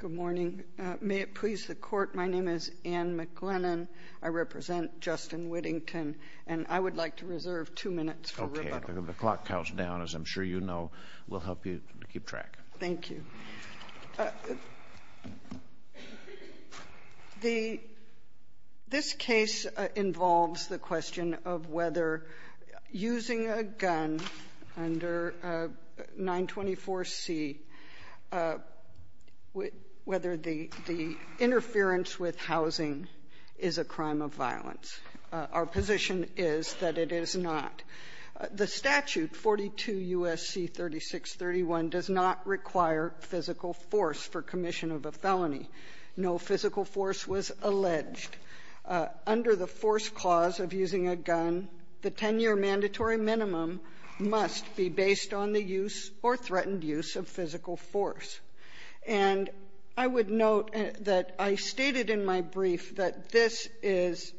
Good morning. May it please the court, my name is Anne McLennan. I represent Justin Whittington and I would like to reserve two minutes for rebuttal. Okay, the clock counts down as I'm sure you know. We'll help you to keep track. Thank you. This case involves the question of whether using a gun under 924C, whether the interference with housing is a crime of violence. Our position is that it is not. The statute, 42 U.S.C. 3631, does not require physical force for commission of a felony. No physical force was alleged. Under the force clause of using a gun, the 10-year mandatory minimum must be based on the use or threatened use of physical force. And I would note that I stated in my brief that this is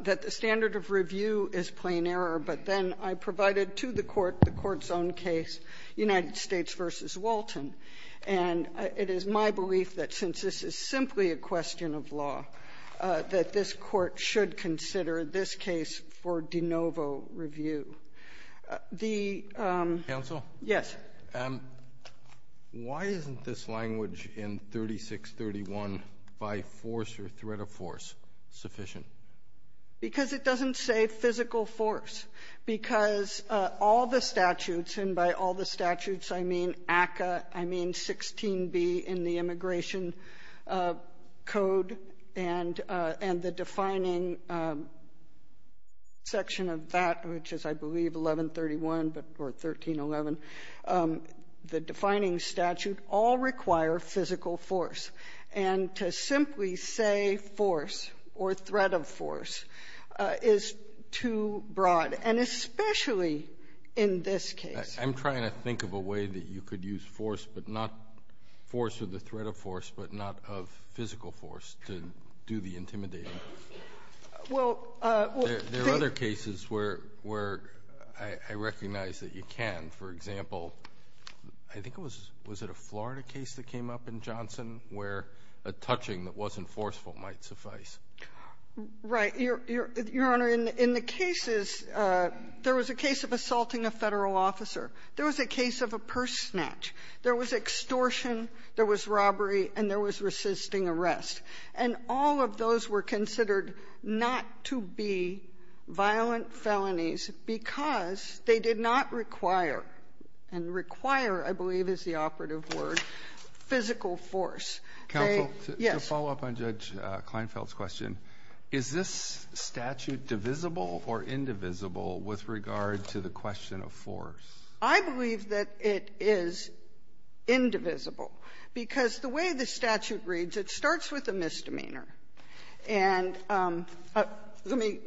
that the standard of review is plain error, but then I provided to the Court the Court's own case, United States v. Walton, and it is my belief that since this is simply a question of law, that this Court should consider this case for de novo review. The ---- Roberts Counsel? Yes. Why isn't this language in 3631 by force or threat of force sufficient? Because it doesn't say physical force. Because all the statutes, and by all the statutes I mean ACCA, I mean 16B in the Immigration Code, and the defining section of that, which is, I believe, 1131 or 1311, the defining statute all require physical force. And to simply say force or threat of force is too broad, and especially in this case. I'm trying to think of a way that you could use force, but not force or the threat of force, but not of physical force to do the intimidating. Well, the ---- There are other cases where I recognize that you can. For example, I think it was at a Florida case that came up in Johnson where a touching that wasn't forceful might suffice. Right. Your Honor, in the cases, there was a case of assaulting a Federal officer. There was a case of a purse snatch. There was extortion. There was robbery. And there was resisting arrest. And all of those were considered not to be violent felonies because they did not require and require, I believe is the operative word, physical force. They ---- Counsel? Yes. I'd like to follow up on Judge Kleinfeld's question. Is this statute divisible or indivisible with regard to the question of force? I believe that it is indivisible, because the way the statute reads, it starts with a misdemeanor. And let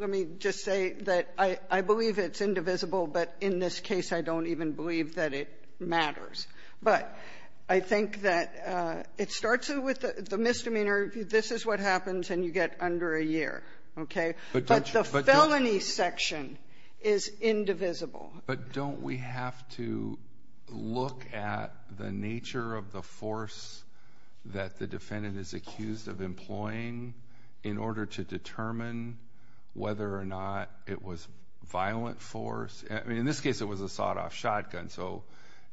me just say that I believe it's indivisible, but in this case, I don't even believe that it matters. But I think that it starts with the misdemeanor. This is what happens, and you get under a year. Okay? But the felony section is indivisible. But don't we have to look at the nature of the force that the defendant is accused of employing in order to determine whether or not it was violent force? I mean, in this case, it was a sawed-off shotgun. So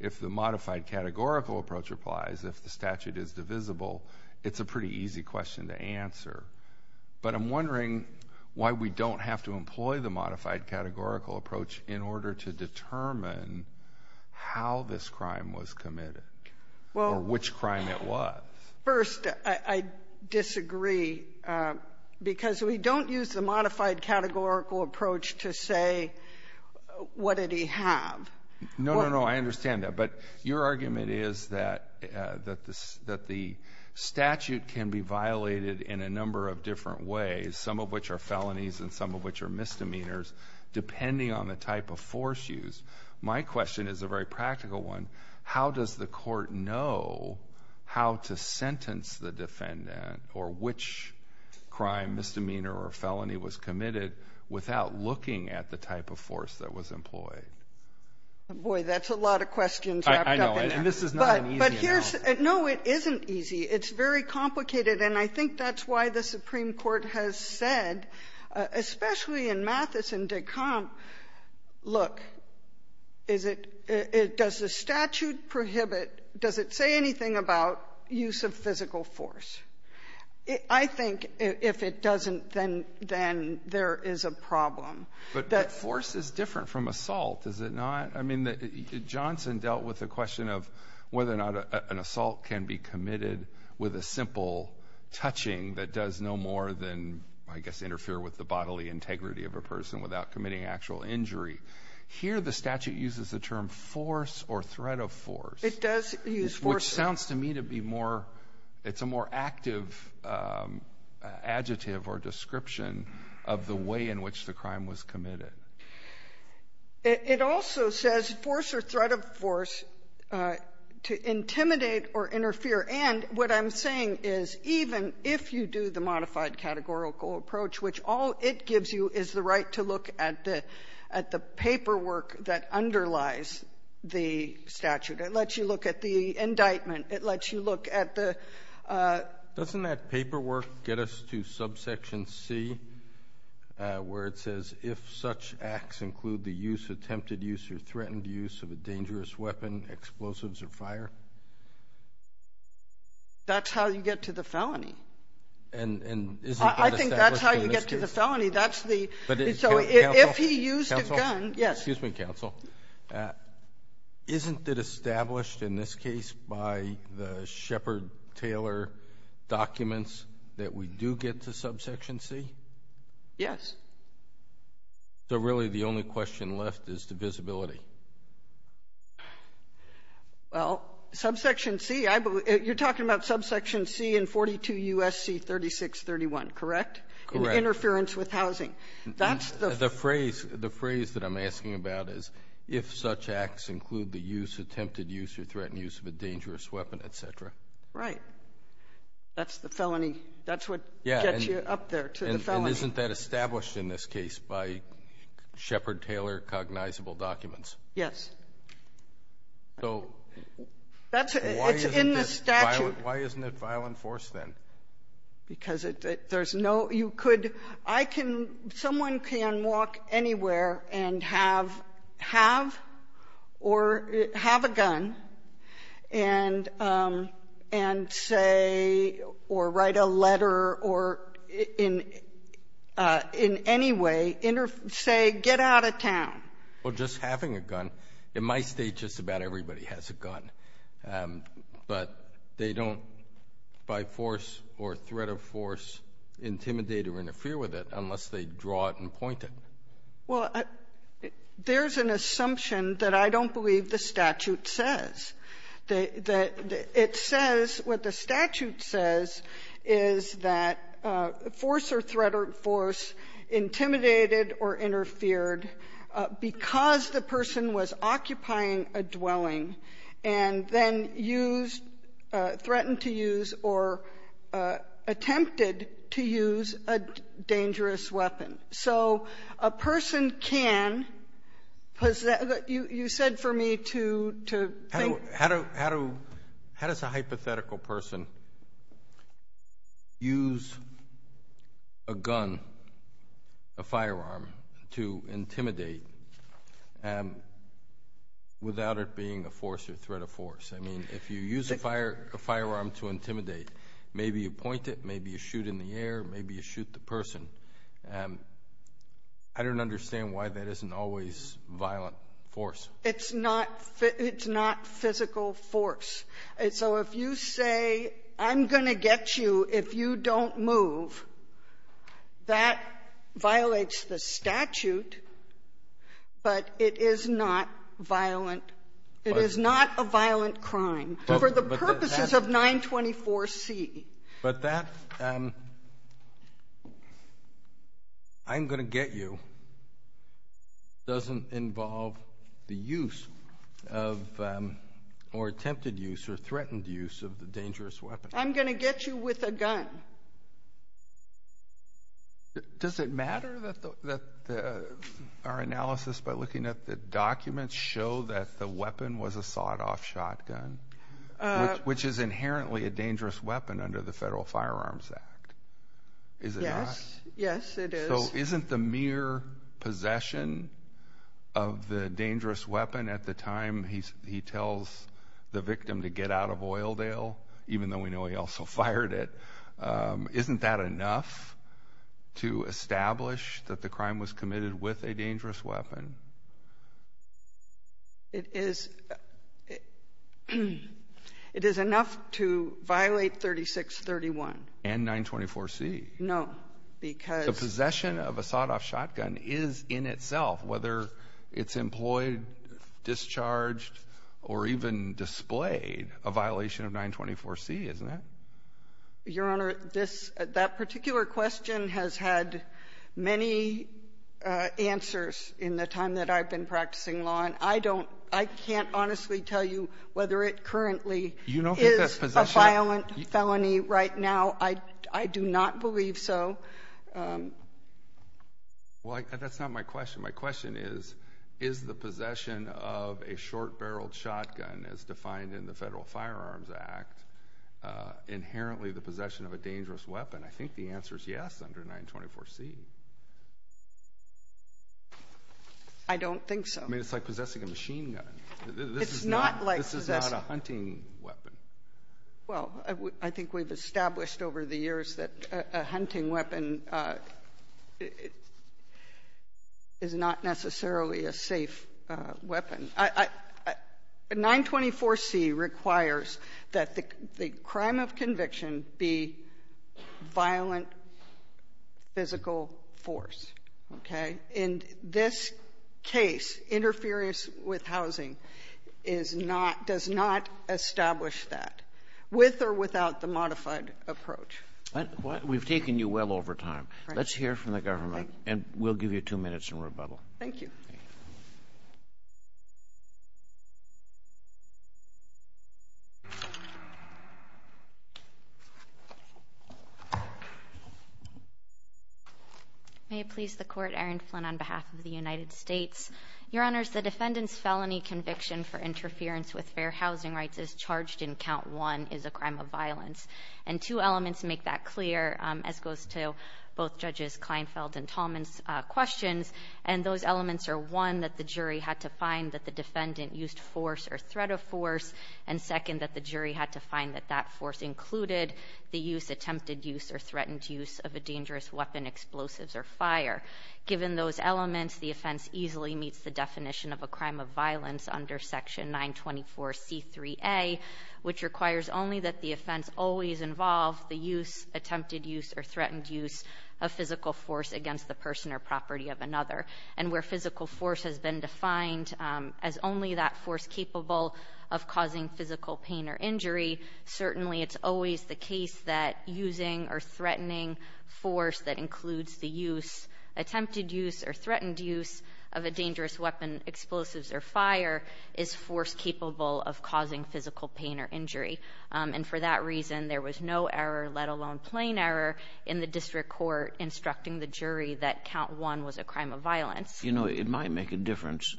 if the modified categorical approach applies, if the statute is divisible, it's a pretty easy question to answer. But I'm wondering why we don't have to employ the modified categorical approach in order to determine how this crime was committed or which crime it was. First, I disagree, because we don't use the modified categorical approach to say, what did he have? No, no, no, I understand that. But your argument is that the statute can be violated in a number of different ways, some of which are felonies and some of which are misdemeanors, depending on the type of force used. My question is a very practical one. How does the court know how to sentence the defendant or which crime, misdemeanor or felony was committed without looking at the type of force that was employed? Boy, that's a lot of questions wrapped up in that. I know, and this is not an easy analysis. No, it isn't easy. It's very complicated. And I think that's why the Supreme Court has said, especially in Mathis and de Camp, look, is it does the statute prohibit, does it say anything about use of physical force? I think if it doesn't, then there is a problem. But force is different from assault, is it not? I mean, Johnson dealt with the question of whether or not an assault can be committed with a simple touching that does no more than, I guess, interfere with the bodily integrity of a person without committing actual injury. Here, the statute uses the term force or threat of force. It does use force. Which sounds to me to be more — it's a more active adjective or description of the way in which the crime was committed. It also says force or threat of force to intimidate or interfere. And what I'm saying is, even if you do the modified categorical approach, which all it gives you is the right to look at the paperwork that underlies the statute, it lets you look at the indictment, it lets you look at the — Doesn't that paperwork get us to subsection C, where it says, if such acts include the use, attempted use, or threatened use of a dangerous weapon, explosives or fire? That's how you get to the felony. And isn't that established in this case? I think that's how you get to the felony. That's the — But, counsel — So if he used a gun — Counsel? Yes. Excuse me, counsel. Isn't it established in this case by the Shepard-Taylor documents that we do get to subsection C? Yes. So really, the only question left is the visibility. Well, subsection C — you're talking about subsection C in 42 U.S.C. 3631, Correct. Interference with housing. That's the — The phrase — the phrase that I'm asking about is, if such acts include the use, attempted use, or threatened use of a dangerous weapon, et cetera. Right. That's the felony. That's what gets you up there to the felony. And isn't that established in this case by Shepard-Taylor cognizable documents? Yes. So — That's — it's in the statute. Why isn't it violent force, then? Because there's no — you could — I can — someone can walk anywhere and have — have or have a gun and — and say or write a letter or in — in any way say, get out of town. Well, just having a gun — in my State, just about everybody has a gun. But they don't, by force or threat of force, intimidate or interfere with it unless they draw it and point it. Well, there's an assumption that I don't believe the statute says. It says — what the statute says is that force or threat of force intimidated or interfered because the person was occupying a dwelling and then used — threatened to use or attempted to use a dangerous weapon. So a person can — you said for me to think — How do — how do — how does a hypothetical person use a gun, a firearm, or a weapon to intimidate without it being a force or threat of force? I mean, if you use a firearm to intimidate, maybe you point it, maybe you shoot in the air, maybe you shoot the person. I don't understand why that isn't always violent force. It's not — it's not physical force. And so if you say, I'm going to get you if you don't move, that violates the statute, but it is not violent. It is not a violent crime for the purposes of 924C. But that, I'm going to get you, doesn't involve the use of — or attempted use of a weapon. Use or threatened use of the dangerous weapon. I'm going to get you with a gun. Does it matter that our analysis by looking at the documents show that the weapon was a sawed-off shotgun, which is inherently a dangerous weapon under the Federal Firearms Act? Is it not? Yes, yes it is. So isn't the mere possession of the dangerous weapon at the time he tells the victim to get out of Oildale, even though we know he also fired it, isn't that enough to establish that the crime was committed with a dangerous weapon? It is — it is enough to violate 3631. And 924C. No. Because — The possession of a sawed-off shotgun is in itself, whether it's employed, discharged, or even displayed, a violation of 924C, isn't it? Your Honor, this — that particular question has had many answers in the time that I've been practicing law, and I don't — I can't honestly tell you whether it currently is — You don't think that's possession? — a violent felony. Right now, I do not believe so. Well, that's not my question. My question is, is the possession of a short-barreled shotgun, as defined in the Federal Firearms Act, inherently the possession of a dangerous weapon? I think the answer is yes under 924C. I don't think so. I mean, it's like possessing a machine gun. This is not — It's not like possessing — This is not a hunting weapon. Well, I think we've established over the years that a hunting weapon is not necessarily a safe weapon. 924C requires that the crime of conviction be violent physical force. Okay? And in this case, interference with housing is not — does not establish that, with or without the modified approach. We've taken you well over time. Let's hear from the government, and we'll give you two minutes in rebuttal. Thank you. May it please the Court, Erin Flynn, on behalf of the United States. Your Honors, the defendant's felony conviction for interference with fair housing rights as charged in Count 1 is a crime of violence. And two elements make that clear, as goes to both Judges Kleinfeld and Tallman's questions. And those elements are, one, that the jury had to find that the defendant used force or threat of force, and, second, that the jury had to find that that force included the use, attempted use, or threatened use of a dangerous weapon, explosives, or fire. Given those elements, the offense easily meets the definition of a crime of violence under Section 924C3A, which requires only that the offense always involve the use, attempted use, or threatened use of physical force against the person or property of another. And where physical force has been defined as only that force capable of causing physical pain or injury, certainly it's always the case that using or threatening force that includes the use, attempted use, or threatened use of a dangerous weapon, explosives, or fire is force capable of causing physical pain or injury. And for that reason, there was no error, let alone plain error, in the district court instructing the jury that Count 1 was a crime of violence. You know, it might make a difference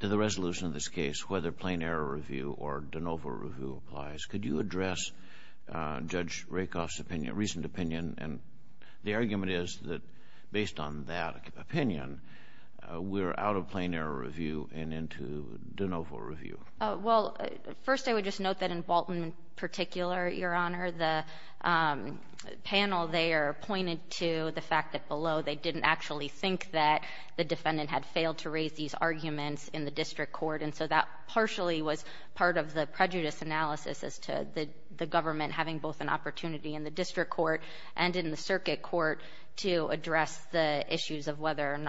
to the resolution of this case whether plain error review or de novo review applies. Could you address Judge Rakoff's opinion, recent opinion, and the argument is that based on that opinion, we're out of plain error review and into de novo review? Well, first I would just note that in Walton in particular, Your Honor, the panel there pointed to the fact that below they didn't actually think that the defendant had failed to raise these arguments in the district court. And so that partially was part of the prejudice analysis as to the government having both an opportunity in the district court and in the circuit court to address the issues of violence.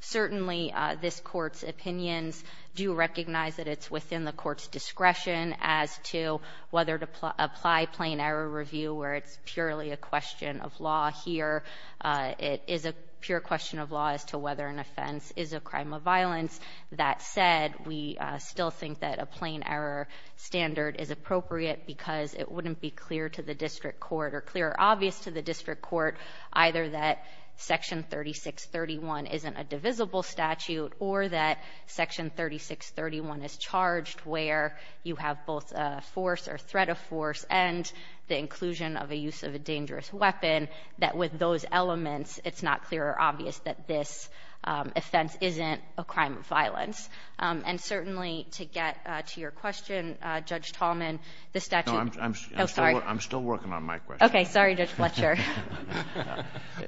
Certainly, this court's opinions do recognize that it's within the court's discretion as to whether to apply plain error review where it's purely a question of law here. It is a pure question of law as to whether an offense is a crime of violence. That said, we still think that a plain error standard is appropriate because it wouldn't be clear to the district court or clear or obvious to the district court either that Section 3631 isn't a divisible statute or that Section 3631 is charged where you have both a force or threat of force and the inclusion of a use of a dangerous weapon, that with those elements, it's not clear or obvious that this offense isn't a crime of violence. And certainly, to get to your question, Judge Tallman, the statute — No, I'm — Oh, sorry. I'm still working on my question. Okay. Sorry, Judge Fletcher.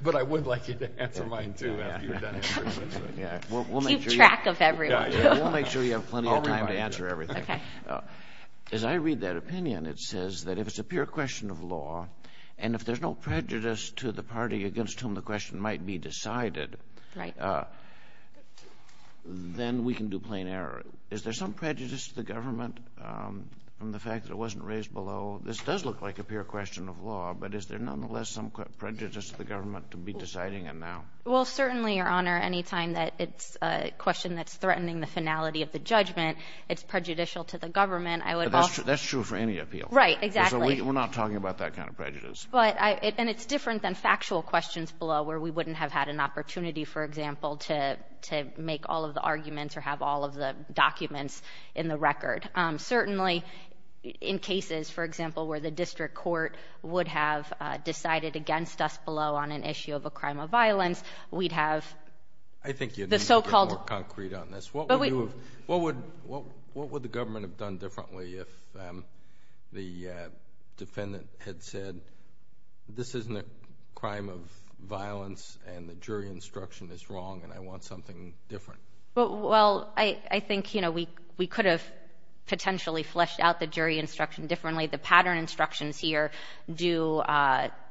But I would like you to answer mine, too, after you're done answering my question. Yeah. We'll make sure — Keep track of everyone. Yeah. Yeah. We'll make sure you have plenty of time to answer everything. Okay. As I read that opinion, it says that if it's a pure question of law and if there's no prejudice to the party against whom the question might be decided — Right. — then we can do plain error. Is there some prejudice to the government from the fact that it wasn't raised below this does look like a pure question of law, but is there nonetheless some prejudice to the government to be deciding it now? Well, certainly, Your Honor, any time that it's a question that's threatening the finality of the judgment, it's prejudicial to the government. I would also — But that's true for any appeal. Right. Exactly. So we're not talking about that kind of prejudice. But I — and it's different than factual questions below where we wouldn't have had an opportunity, for example, to make all of the arguments or have all of the documents in the record. Certainly, in cases, for example, where the district court would have decided against us below on an issue of a crime of violence, we'd have the so-called — I think you'd need to be more concrete on this. But we — What would you have — what would the government have done differently if the defendant had said, this isn't a crime of violence and the jury instruction is wrong and I want something different? Well, I think, you know, we could have potentially fleshed out the jury instruction differently. The pattern instructions here do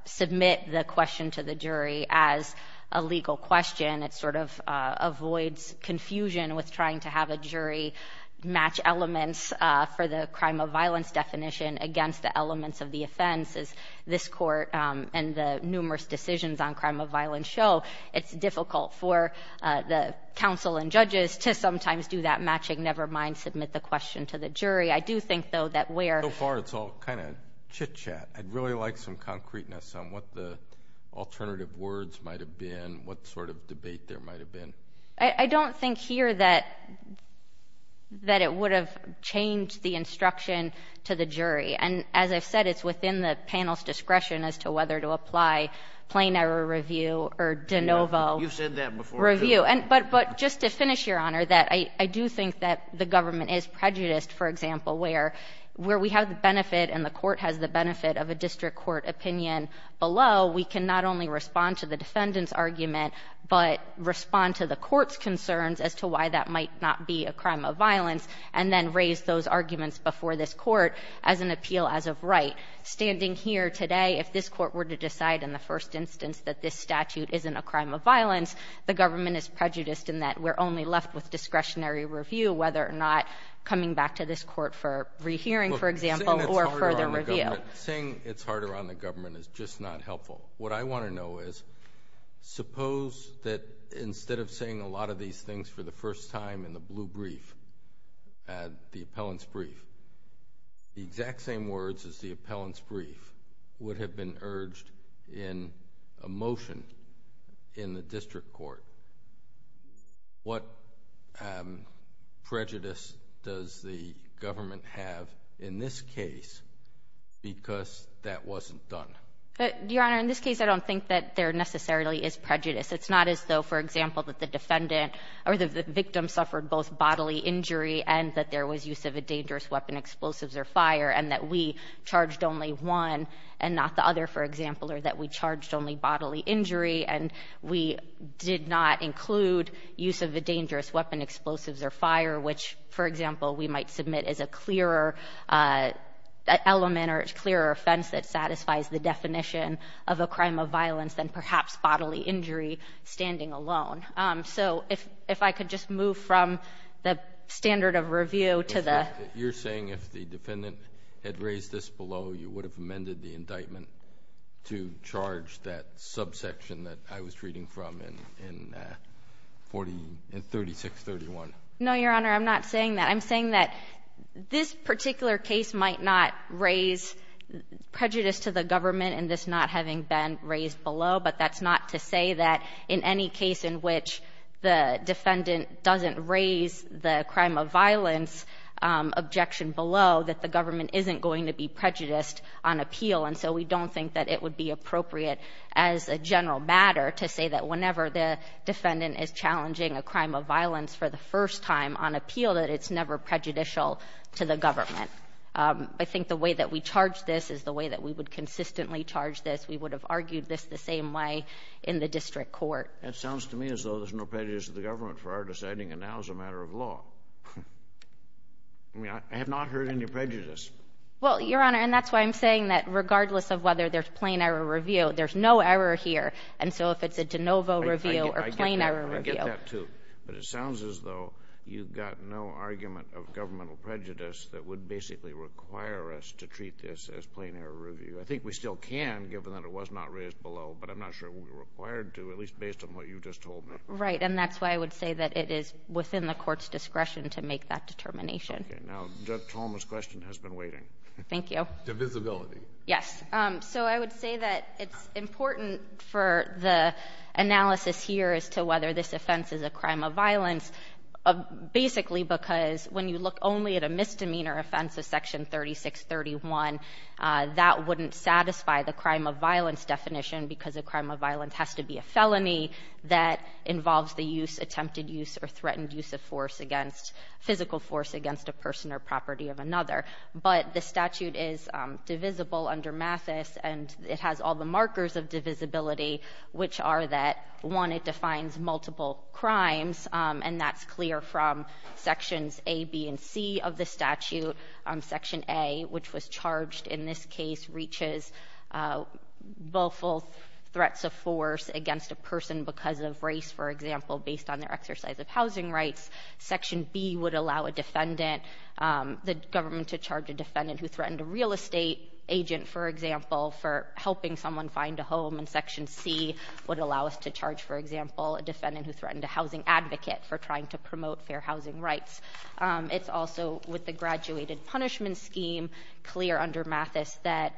submit the question to the jury as a legal question. It sort of avoids confusion with trying to have a jury match elements for the crime of violence definition against the elements of the offense, as this court and the numerous decisions on crime of violence show. It's difficult for the counsel and judges to sometimes do that matching, never mind submit the question to the jury. I do think, though, that where — So far, it's all kind of chitchat. I'd really like some concreteness on what the alternative words might have been, what sort of debate there might have been. I don't think here that it would have changed the instruction to the jury. And as I've said, it's within the panel's discretion as to whether to apply plain error review or de novo review. But just to finish, Your Honor, I do think that the government is prejudiced, for example, where we have the benefit and the court has the benefit of a district court opinion below, we can not only respond to the defendant's argument but respond to the court's concerns as to why that might not be a crime of violence and then raise those arguments before this court as an appeal as of right. But standing here today, if this court were to decide in the first instance that this statute isn't a crime of violence, the government is prejudiced in that we're only left with discretionary review, whether or not coming back to this court for rehearing, for example, or further review. Look, saying it's harder on the government is just not helpful. What I want to know is, suppose that instead of saying a lot of these things for the first time in the blue brief, the appellant's brief, the exact same words as the appellant's brief would have been urged in a motion in the district court. What prejudice does the government have in this case because that wasn't done? Your Honor, in this case, I don't think that there necessarily is prejudice. It's not as though, for example, that the defendant or the victim suffered both bodily injury and that there was use of a dangerous weapon, explosives, or fire, and that we charged only one and not the other, for example, or that we charged only bodily injury and we did not include use of a dangerous weapon, explosives, or fire, which, for example, we might submit as a clearer element or a clearer offense that satisfies the definition of a crime of violence than perhaps bodily injury. So, if I could just move from the standard of review to the… You're saying if the defendant had raised this below, you would have amended the indictment to charge that subsection that I was reading from in 3631? No, Your Honor, I'm not saying that. I'm saying that this particular case might not raise prejudice to the government in this not having been raised below, but that's not to say that in any case in which the defendant doesn't raise the crime of violence objection below, that the government isn't going to be prejudiced on appeal. And so we don't think that it would be appropriate as a general matter to say that whenever the defendant is challenging a crime of violence for the first time on appeal, that it's never prejudicial to the government. I think the way that we charge this is the way that we would consistently charge this. We would have argued this the same way in the district court. That sounds to me as though there's no prejudice to the government for our deciding it now as a matter of law. I mean, I have not heard any prejudice. Well, Your Honor, and that's why I'm saying that regardless of whether there's plain error review, there's no error here. And so if it's a de novo review or plain error review… I get that, too. But it sounds as though you've got no argument of governmental prejudice that would basically require us to treat this as plain error review. I think we still can, given that it was not raised below, but I'm not sure we're required to, at least based on what you just told me. Right. And that's why I would say that it is within the court's discretion to make that determination. Okay. Now, Judge Tolma's question has been waiting. Thank you. Divisibility. Yes. So I would say that it's important for the analysis here as to whether this offense is a crime of violence, basically because when you look only at a misdemeanor offense of Section 3631, that wouldn't satisfy the crime of violence definition because a crime of violence has to be a felony that involves the use, attempted use, or threatened use of force against… physical force against a person or property of another. But the statute is divisible under Mathis, and it has all the markers of divisibility, which are that, one, it defines multiple crimes, and that's clear from Sections A, B, and C of the statute. Section A, which was charged in this case, reaches both threats of force against a person because of race, for example, based on their exercise of housing rights. Section B would allow a defendant, the government to charge a defendant who threatened a real estate agent, for example, for helping someone find a home. And Section C would allow us to charge, for example, a defendant who threatened a housing advocate for trying to promote fair housing rights. It's also, with the graduated punishment scheme, clear under Mathis that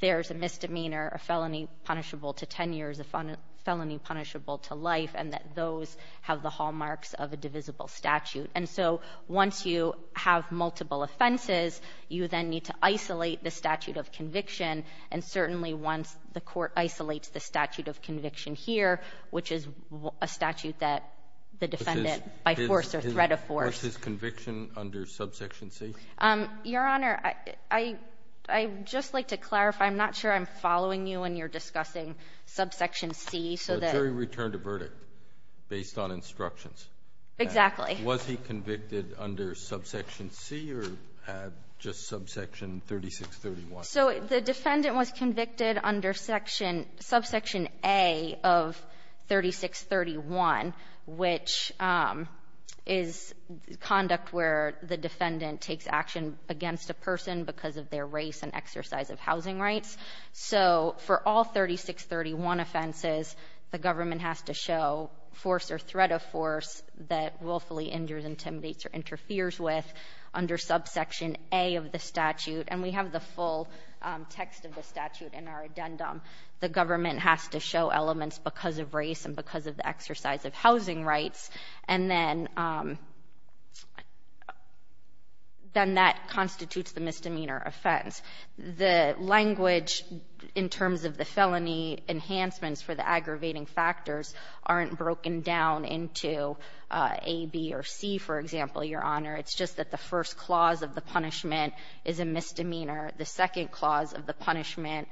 there's a misdemeanor, a felony punishable to 10 years, a felony punishable to life, and that those have the hallmarks of a divisible statute. And so once you have multiple offenses, you then need to isolate the statute of conviction, and certainly once the court isolates the statute of conviction here, which is a statute that the defendant, by force or threat of force… Kennedy, what's his conviction under Subsection C? Your Honor, I'd just like to clarify. I'm not sure I'm following you when you're discussing Subsection C, so that… So the jury returned a verdict based on instructions. Exactly. Was he convicted under Subsection C or just Subsection 3631? So the defendant was convicted under Section… Subsection A of 3631, which is conduct where the defendant takes action against a person because of their race and exercise of housing rights. So for all 3631 offenses, the government has to show force or threat of force that willfully injures, intimidates, or interferes with under Subsection A of the statute, and we have the full text of the statute in our addendum. The government has to show elements because of race and because of the exercise of housing rights, and then that constitutes the misdemeanor offense. The language in terms of the felony enhancements aggravating factors aren't broken down into A, B, or C, for example, Your Honor. It's just that the first clause of the punishment is a misdemeanor. The second clause of the punishment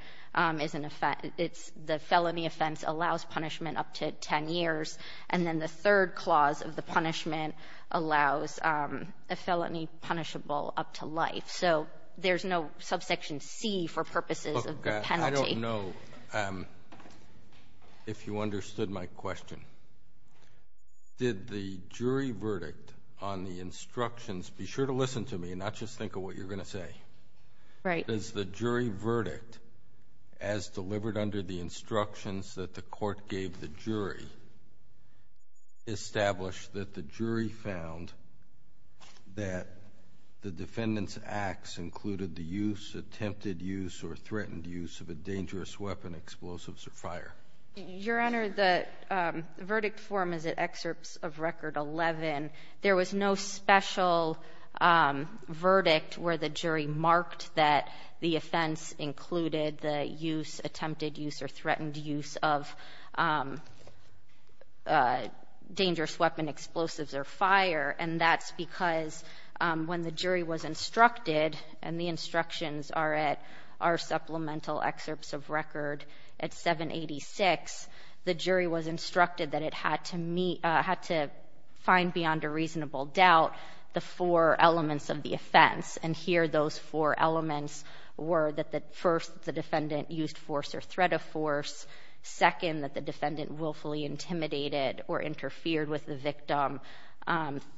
is an offense – it's the felony offense allows punishment up to 10 years, and then the third clause of the punishment allows a felony punishable up to life. So there's no Subsection C for purposes of the penalty. I don't know if you understood my question. Did the jury verdict on the instructions – be sure to listen to me and not just think of what you're going to say. Right. Does the jury verdict, as delivered under the instructions that the court gave the jury, establish that the jury found that the defendant's acts included the use, attempted use, or threatened use of a dangerous weapon, explosives, or fire? Your Honor, the verdict form is at excerpts of Record 11. There was no special verdict where the jury marked that the offense included the use, attempted use, or threatened use of dangerous weapon, explosives, or fire, and that's because when the jury was instructed, and the instructions are at our supplemental excerpts of Record at 786, the jury was instructed that it had to find beyond a reasonable doubt the four elements of the offense, and here those four elements were that first, the defendant used force or threat of force, second, that the defendant willfully intimidated or interfered with the victim,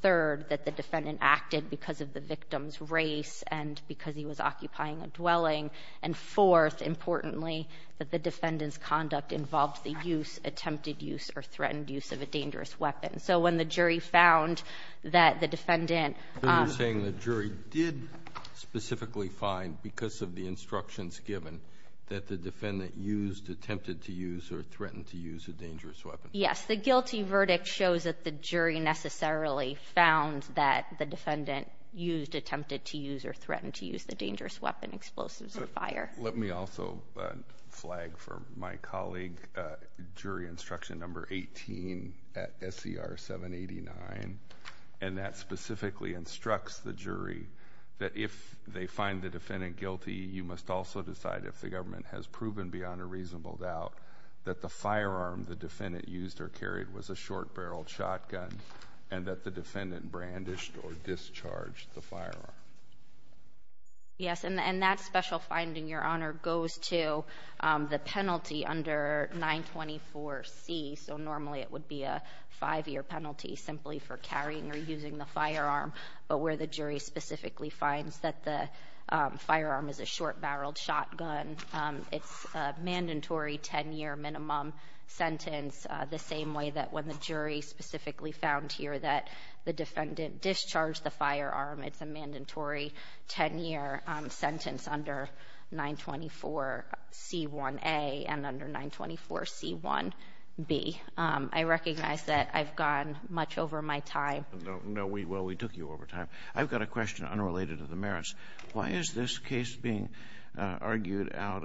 third, that the defendant acted because of the victim's race and because he was occupying a dwelling, and fourth, importantly, that the defendant's conduct involved the use, attempted use, or threatened use of a dangerous weapon. So when the jury found that the defendant You're saying the jury did specifically find, because of the instructions given, that the defendant used, attempted to use, or threatened to use a dangerous weapon. Yes, the guilty verdict shows that the jury necessarily found that the defendant used, attempted to use, or threatened to use the dangerous weapon, explosives, or fire. Let me also flag for my colleague jury instruction number 18 at SCR 789, and that specifically instructs the jury that if they find the defendant guilty, you must also decide if the government has proven beyond a reasonable doubt that the firearm the defendant used or carried was a short-barreled shotgun and that the defendant brandished or discharged the firearm. Yes, and that special finding, Your Honor, goes to the penalty under 924C, so normally it would be a five-year penalty simply for carrying or using the firearm, but where the jury specifically finds that the firearm is a short-barreled shotgun. It's a mandatory 10-year minimum sentence, the same way that when the jury specifically found here that the defendant discharged the firearm, it's a mandatory 10-year sentence under 924C1A and under 924C1B. I recognize that I've gone much over my time. No, well, we took you over time. I've got a question unrelated to the merits. Why is this case being argued out,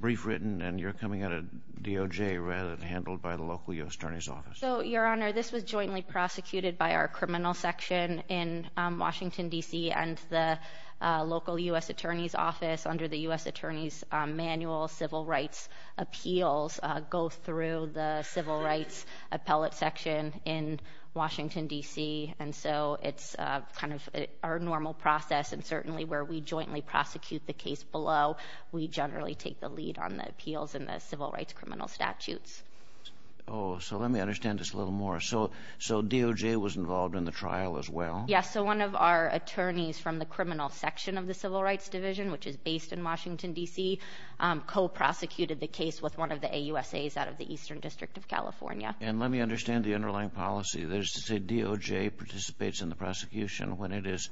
brief written, and you're coming at a DOJ rather than handled by the local U.S. Attorney's Office? So, Your Honor, this was jointly prosecuted by our criminal section in Washington, D.C., and the local U.S. Attorney's Office under the U.S. Attorney's manual civil rights appeals go through the civil rights appellate section in Washington, D.C., and so it's kind of our normal process, and certainly where we jointly prosecute the case below, we generally take the lead on the appeals and the civil rights criminal statutes. Oh, so let me understand this a little more. So DOJ was involved in the trial as well? Yes, so one of our attorneys from the criminal section of the civil rights division, which is based in Washington, D.C., co-prosecuted the case with one of the AUSAs out of the Eastern District of California. And let me understand the underlying policy. There's a DOJ participates in the prosecution. When it is,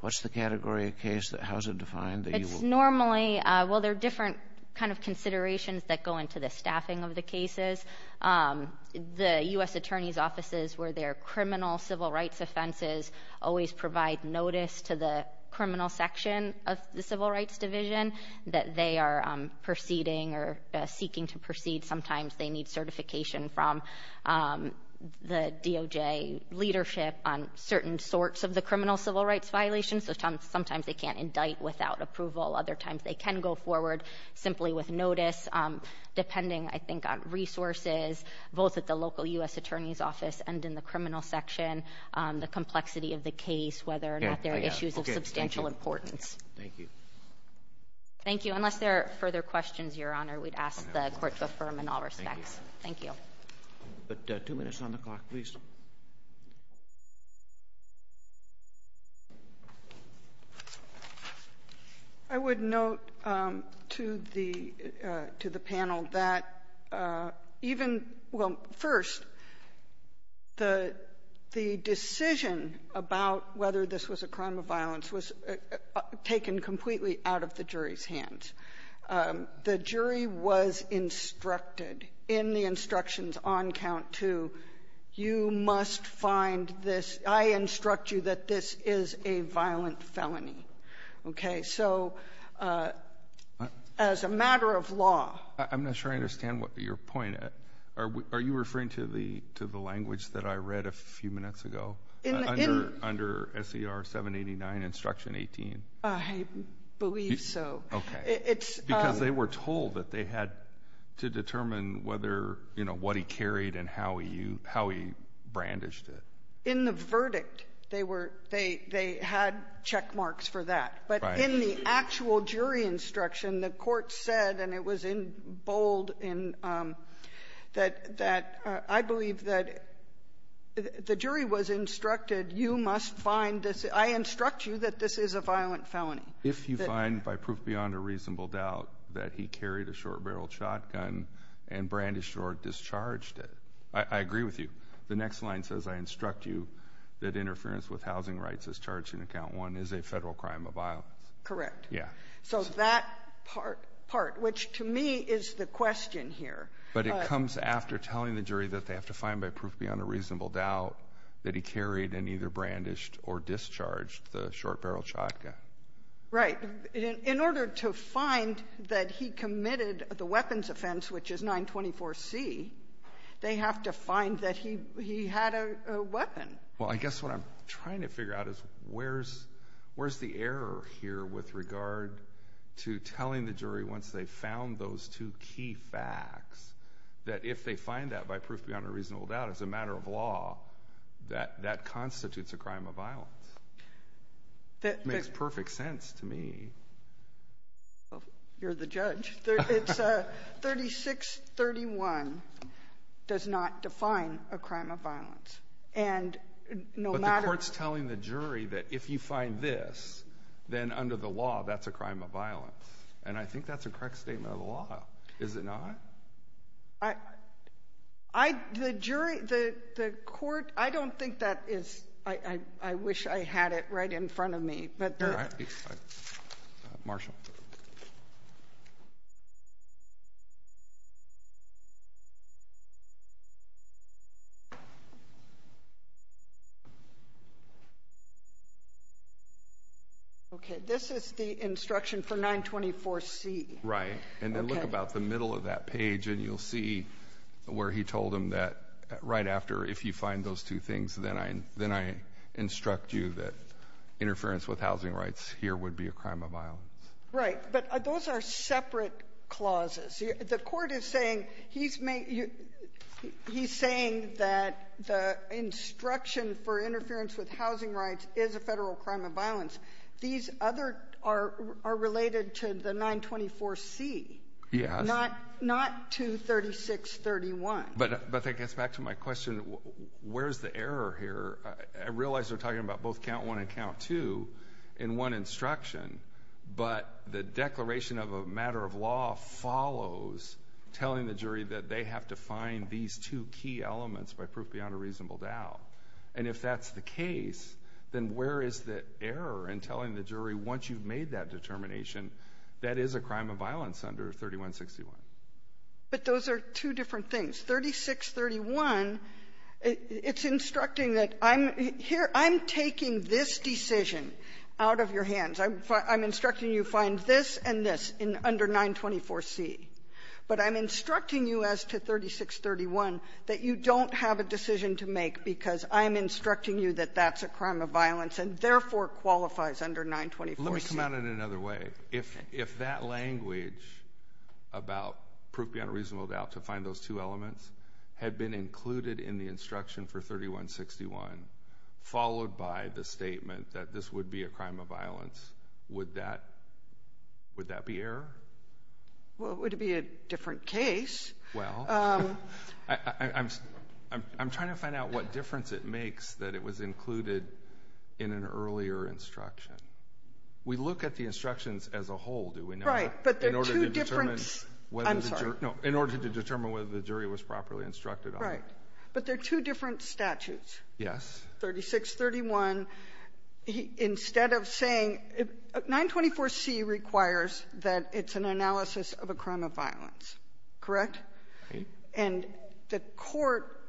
what's the category of case? How is it defined? It's normally, well, there are different kind of considerations that go into the staffing of the cases. The U.S. Attorney's Offices, where there are criminal civil rights offenses, always provide notice to the criminal section of the civil rights division that they are proceeding or they need certification from the DOJ leadership on certain sorts of the criminal civil rights violations. Sometimes they can't indict without approval. Other times they can go forward simply with notice, depending, I think, on resources, both at the local U.S. Attorney's Office and in the criminal section, the complexity of the case, whether or not there are issues of substantial importance. Thank you. Thank you. Unless there are further questions, Your Honor, we'd ask the Court to affirm in all respects. Thank you. But two minutes on the clock, please. I would note to the panel that even — well, first, the decision about whether this was a crime of violence was taken completely out of the jury's hands. The jury was instructed in the instructions on count two, you must find this — I instruct you that this is a violent felony. Okay? So as a matter of law — I'm not sure I understand what your point — are you referring to the language that I read a few minutes ago? Under S.E.R. 789, instruction 18? I believe so. Okay. Because they were told that they had to determine whether — you know, what he carried and how he brandished it. In the verdict, they were — they had checkmarks for that. But in the actual jury instruction, the Court said, and it was in bold, that I believe that the jury was instructed, you must find this — I instruct you that this is a violent felony. If you find, by proof beyond a reasonable doubt, that he carried a short-barreled shotgun and brandished or discharged it. I agree with you. The next line says, I instruct you that interference with housing rights as charged in count one is a Federal crime of violence. Correct. Yeah. So that part, which to me, is the question here. But it comes after telling the jury that they have to find, by proof beyond a reasonable doubt, that he carried and either brandished or discharged the short-barreled shotgun. Right. In order to find that he committed the weapons offense, which is 924C, they have to find that he had a weapon. Well, I guess what I'm trying to figure out is, where's the error here with regard to telling the jury, once they've found those two key facts, that if they find that, by proof beyond a reasonable doubt, as a matter of law, that that constitutes a crime of violence? That makes perfect sense to me. Well, you're the that if you find this, then under the law, that's a crime of violence. And I think that's a correct statement of the law, is it not? The jury, the court, I don't think that is, I wish I had it right in front of me. Marshal. Okay, this is the instruction for 924C. Right. And then look about the middle of that page, and you'll see where he told them that right after, if you find those two things, then I instruct you that interference with housing rights here would be a crime of violence. Right. But those are separate clauses. The court is saying, he's saying that the instruction for interference with housing rights is a Federal crime of violence. These other are related to the 924C. Yes. Not to 3631. But that gets back to my question, where's the error here? I realize they're talking about both count one and count two in one instruction, but the declaration of a matter of law follows telling the jury that they have to find these two key elements by proof beyond a reasonable doubt. And if that's the case, then where is the error in telling the jury, once you've made that determination, that is a crime of violence under 3161? But those are two different things. 3631, it's instructing that I'm here, I'm taking this decision out of your hands. I'm instructing you to find this and this under 924C. But I'm instructing you as to 3631 that you don't have a decision to make because I'm instructing you that that's a crime of violence and therefore qualifies under 924C. Let me come out in another way. If that language about proof beyond a reasonable doubt to find those two elements had been included in the instruction for 3161, followed by the statement that this would be a crime of violence, would that be error? Well, it would be a different case. Well, I'm trying to find out what difference it makes that it was included in an earlier instruction. We look at the instructions as a whole, do we not? Right. In order to determine whether the jury was properly instructed on it. Right. But they're two different statutes. Yes. 3631, instead of saying — 924C requires that it's an analysis of a crime of violence, correct? Right. And the Court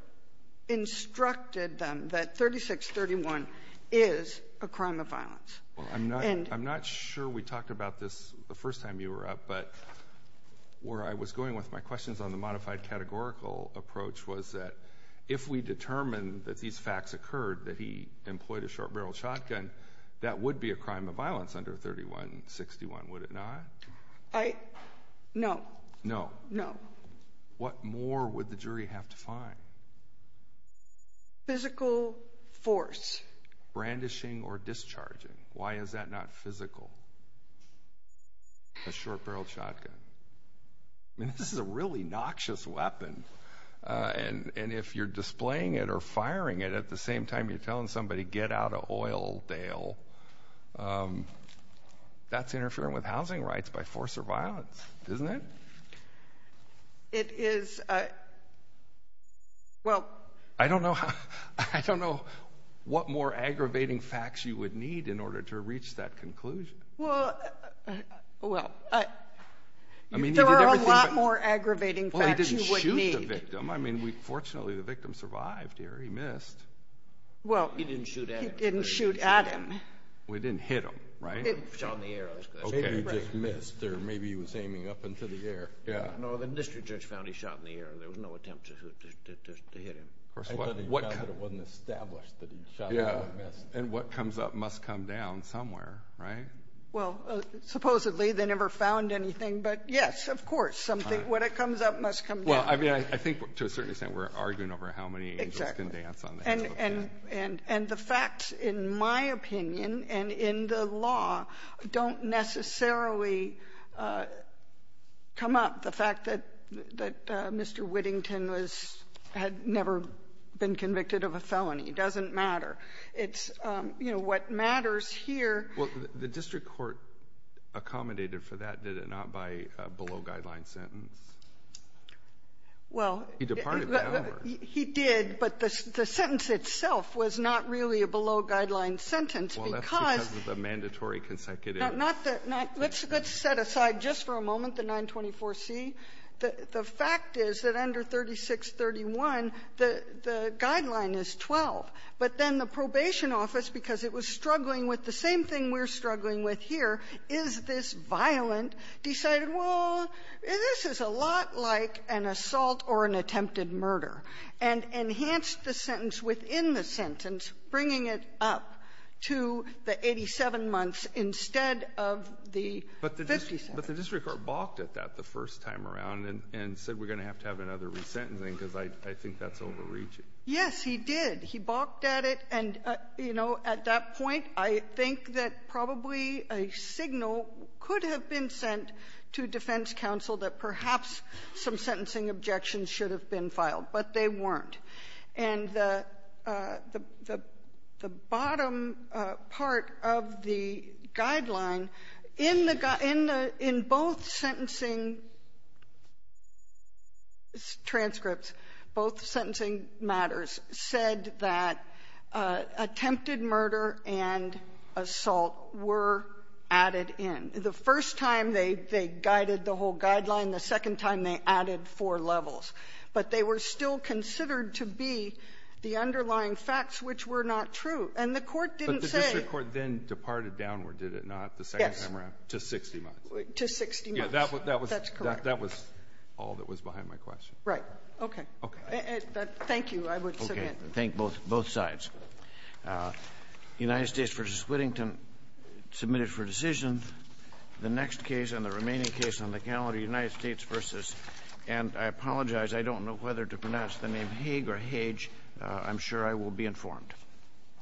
instructed them that 3631 is a crime of violence. Well, I'm not sure we talked about this the first time you were up, but where I was going with my questions on the modified categorical approach was that if we determined that these facts occurred, that he employed a short-barrel shotgun, that would be a crime of violence under 3161, would it not? I — no. No? No. What more would the jury have to find? Physical force. Brandishing or discharging. Why is that not physical? A short-barreled shotgun. I mean, this is a really noxious weapon. And if you're displaying it or firing it at the same time you're telling somebody, get out of oil, Dale, that's interfering with housing rights by force or violence, isn't it? It is — well — I don't know how — I don't know what more aggravating facts you would need in order to reach that conclusion. Well — well, there are a lot more aggravating facts you would need. Well, he didn't shoot the victim. I mean, we — fortunately, the victim survived here. He missed. Well — He didn't shoot at him. He didn't shoot at him. We didn't hit him, right? It was on the air, I was going to say. Maybe he just missed, or maybe he was aiming up into the air. Yeah. No, the district judge found he shot in the air. There was no attempt to hit him. Of course not. I thought he found that it wasn't established that he shot. Yeah. And what comes up must come down somewhere, right? Well, supposedly they never found anything, but yes, of course, something — what comes up must come down. Well, I mean, I think to a certain extent we're arguing over how many angels can dance on the head of a man. And the facts, in my opinion, and in the law, don't necessarily come up. The fact that Mr. Whittington was — had never been convicted of a felony doesn't matter. It's — you know, what matters here — Well, the district court accommodated for that, did it not, by a below-guideline sentence? Well — He departed, by other words. He did, but the sentence itself was not really a below-guideline sentence, because — Well, that's because of the mandatory consecutive — Not the — let's set aside just for a moment the 924C. The fact is that under 3631, the — the guideline is 12. But then the probation office, because it was struggling with the same thing we're struggling with here, is this violent, decided, well, this is a lot like an assault or an attempted murder. And enhanced the sentence within the sentence, bringing it up to the 87 months instead of the 50 sentences. But the district court balked at that the first time around and said we're going to have to have another resentencing, because I think that's overreaching. Yes, he did. He balked at it. And, you know, at that point, I think that probably a signal could have been sent to defense counsel that perhaps some sentencing objections should have been filed. But they weren't. And the — the bottom part of the guideline, in the — in the — in both sentencing transcripts, both sentencing matters, said that attempted murder and assault were added in. The first time, they guided the whole guideline. The second time, they added four levels. But they were still considered to be the underlying facts, which were not true. And the Court didn't say — But the district court then departed downward, did it not, the second time around? Yes. To 60 months. To 60 months. Yeah. That was — that was — That's correct. That was all that was behind my question. Right. Okay. Okay. Thank you. I would submit. Okay. Thank both sides. United States v. Whittington submitted for decision the next case and the remaining case on the calendar, United States v. — and I apologize. I don't know whether to pronounce the name Haig or Hage. I'm sure I will be informed.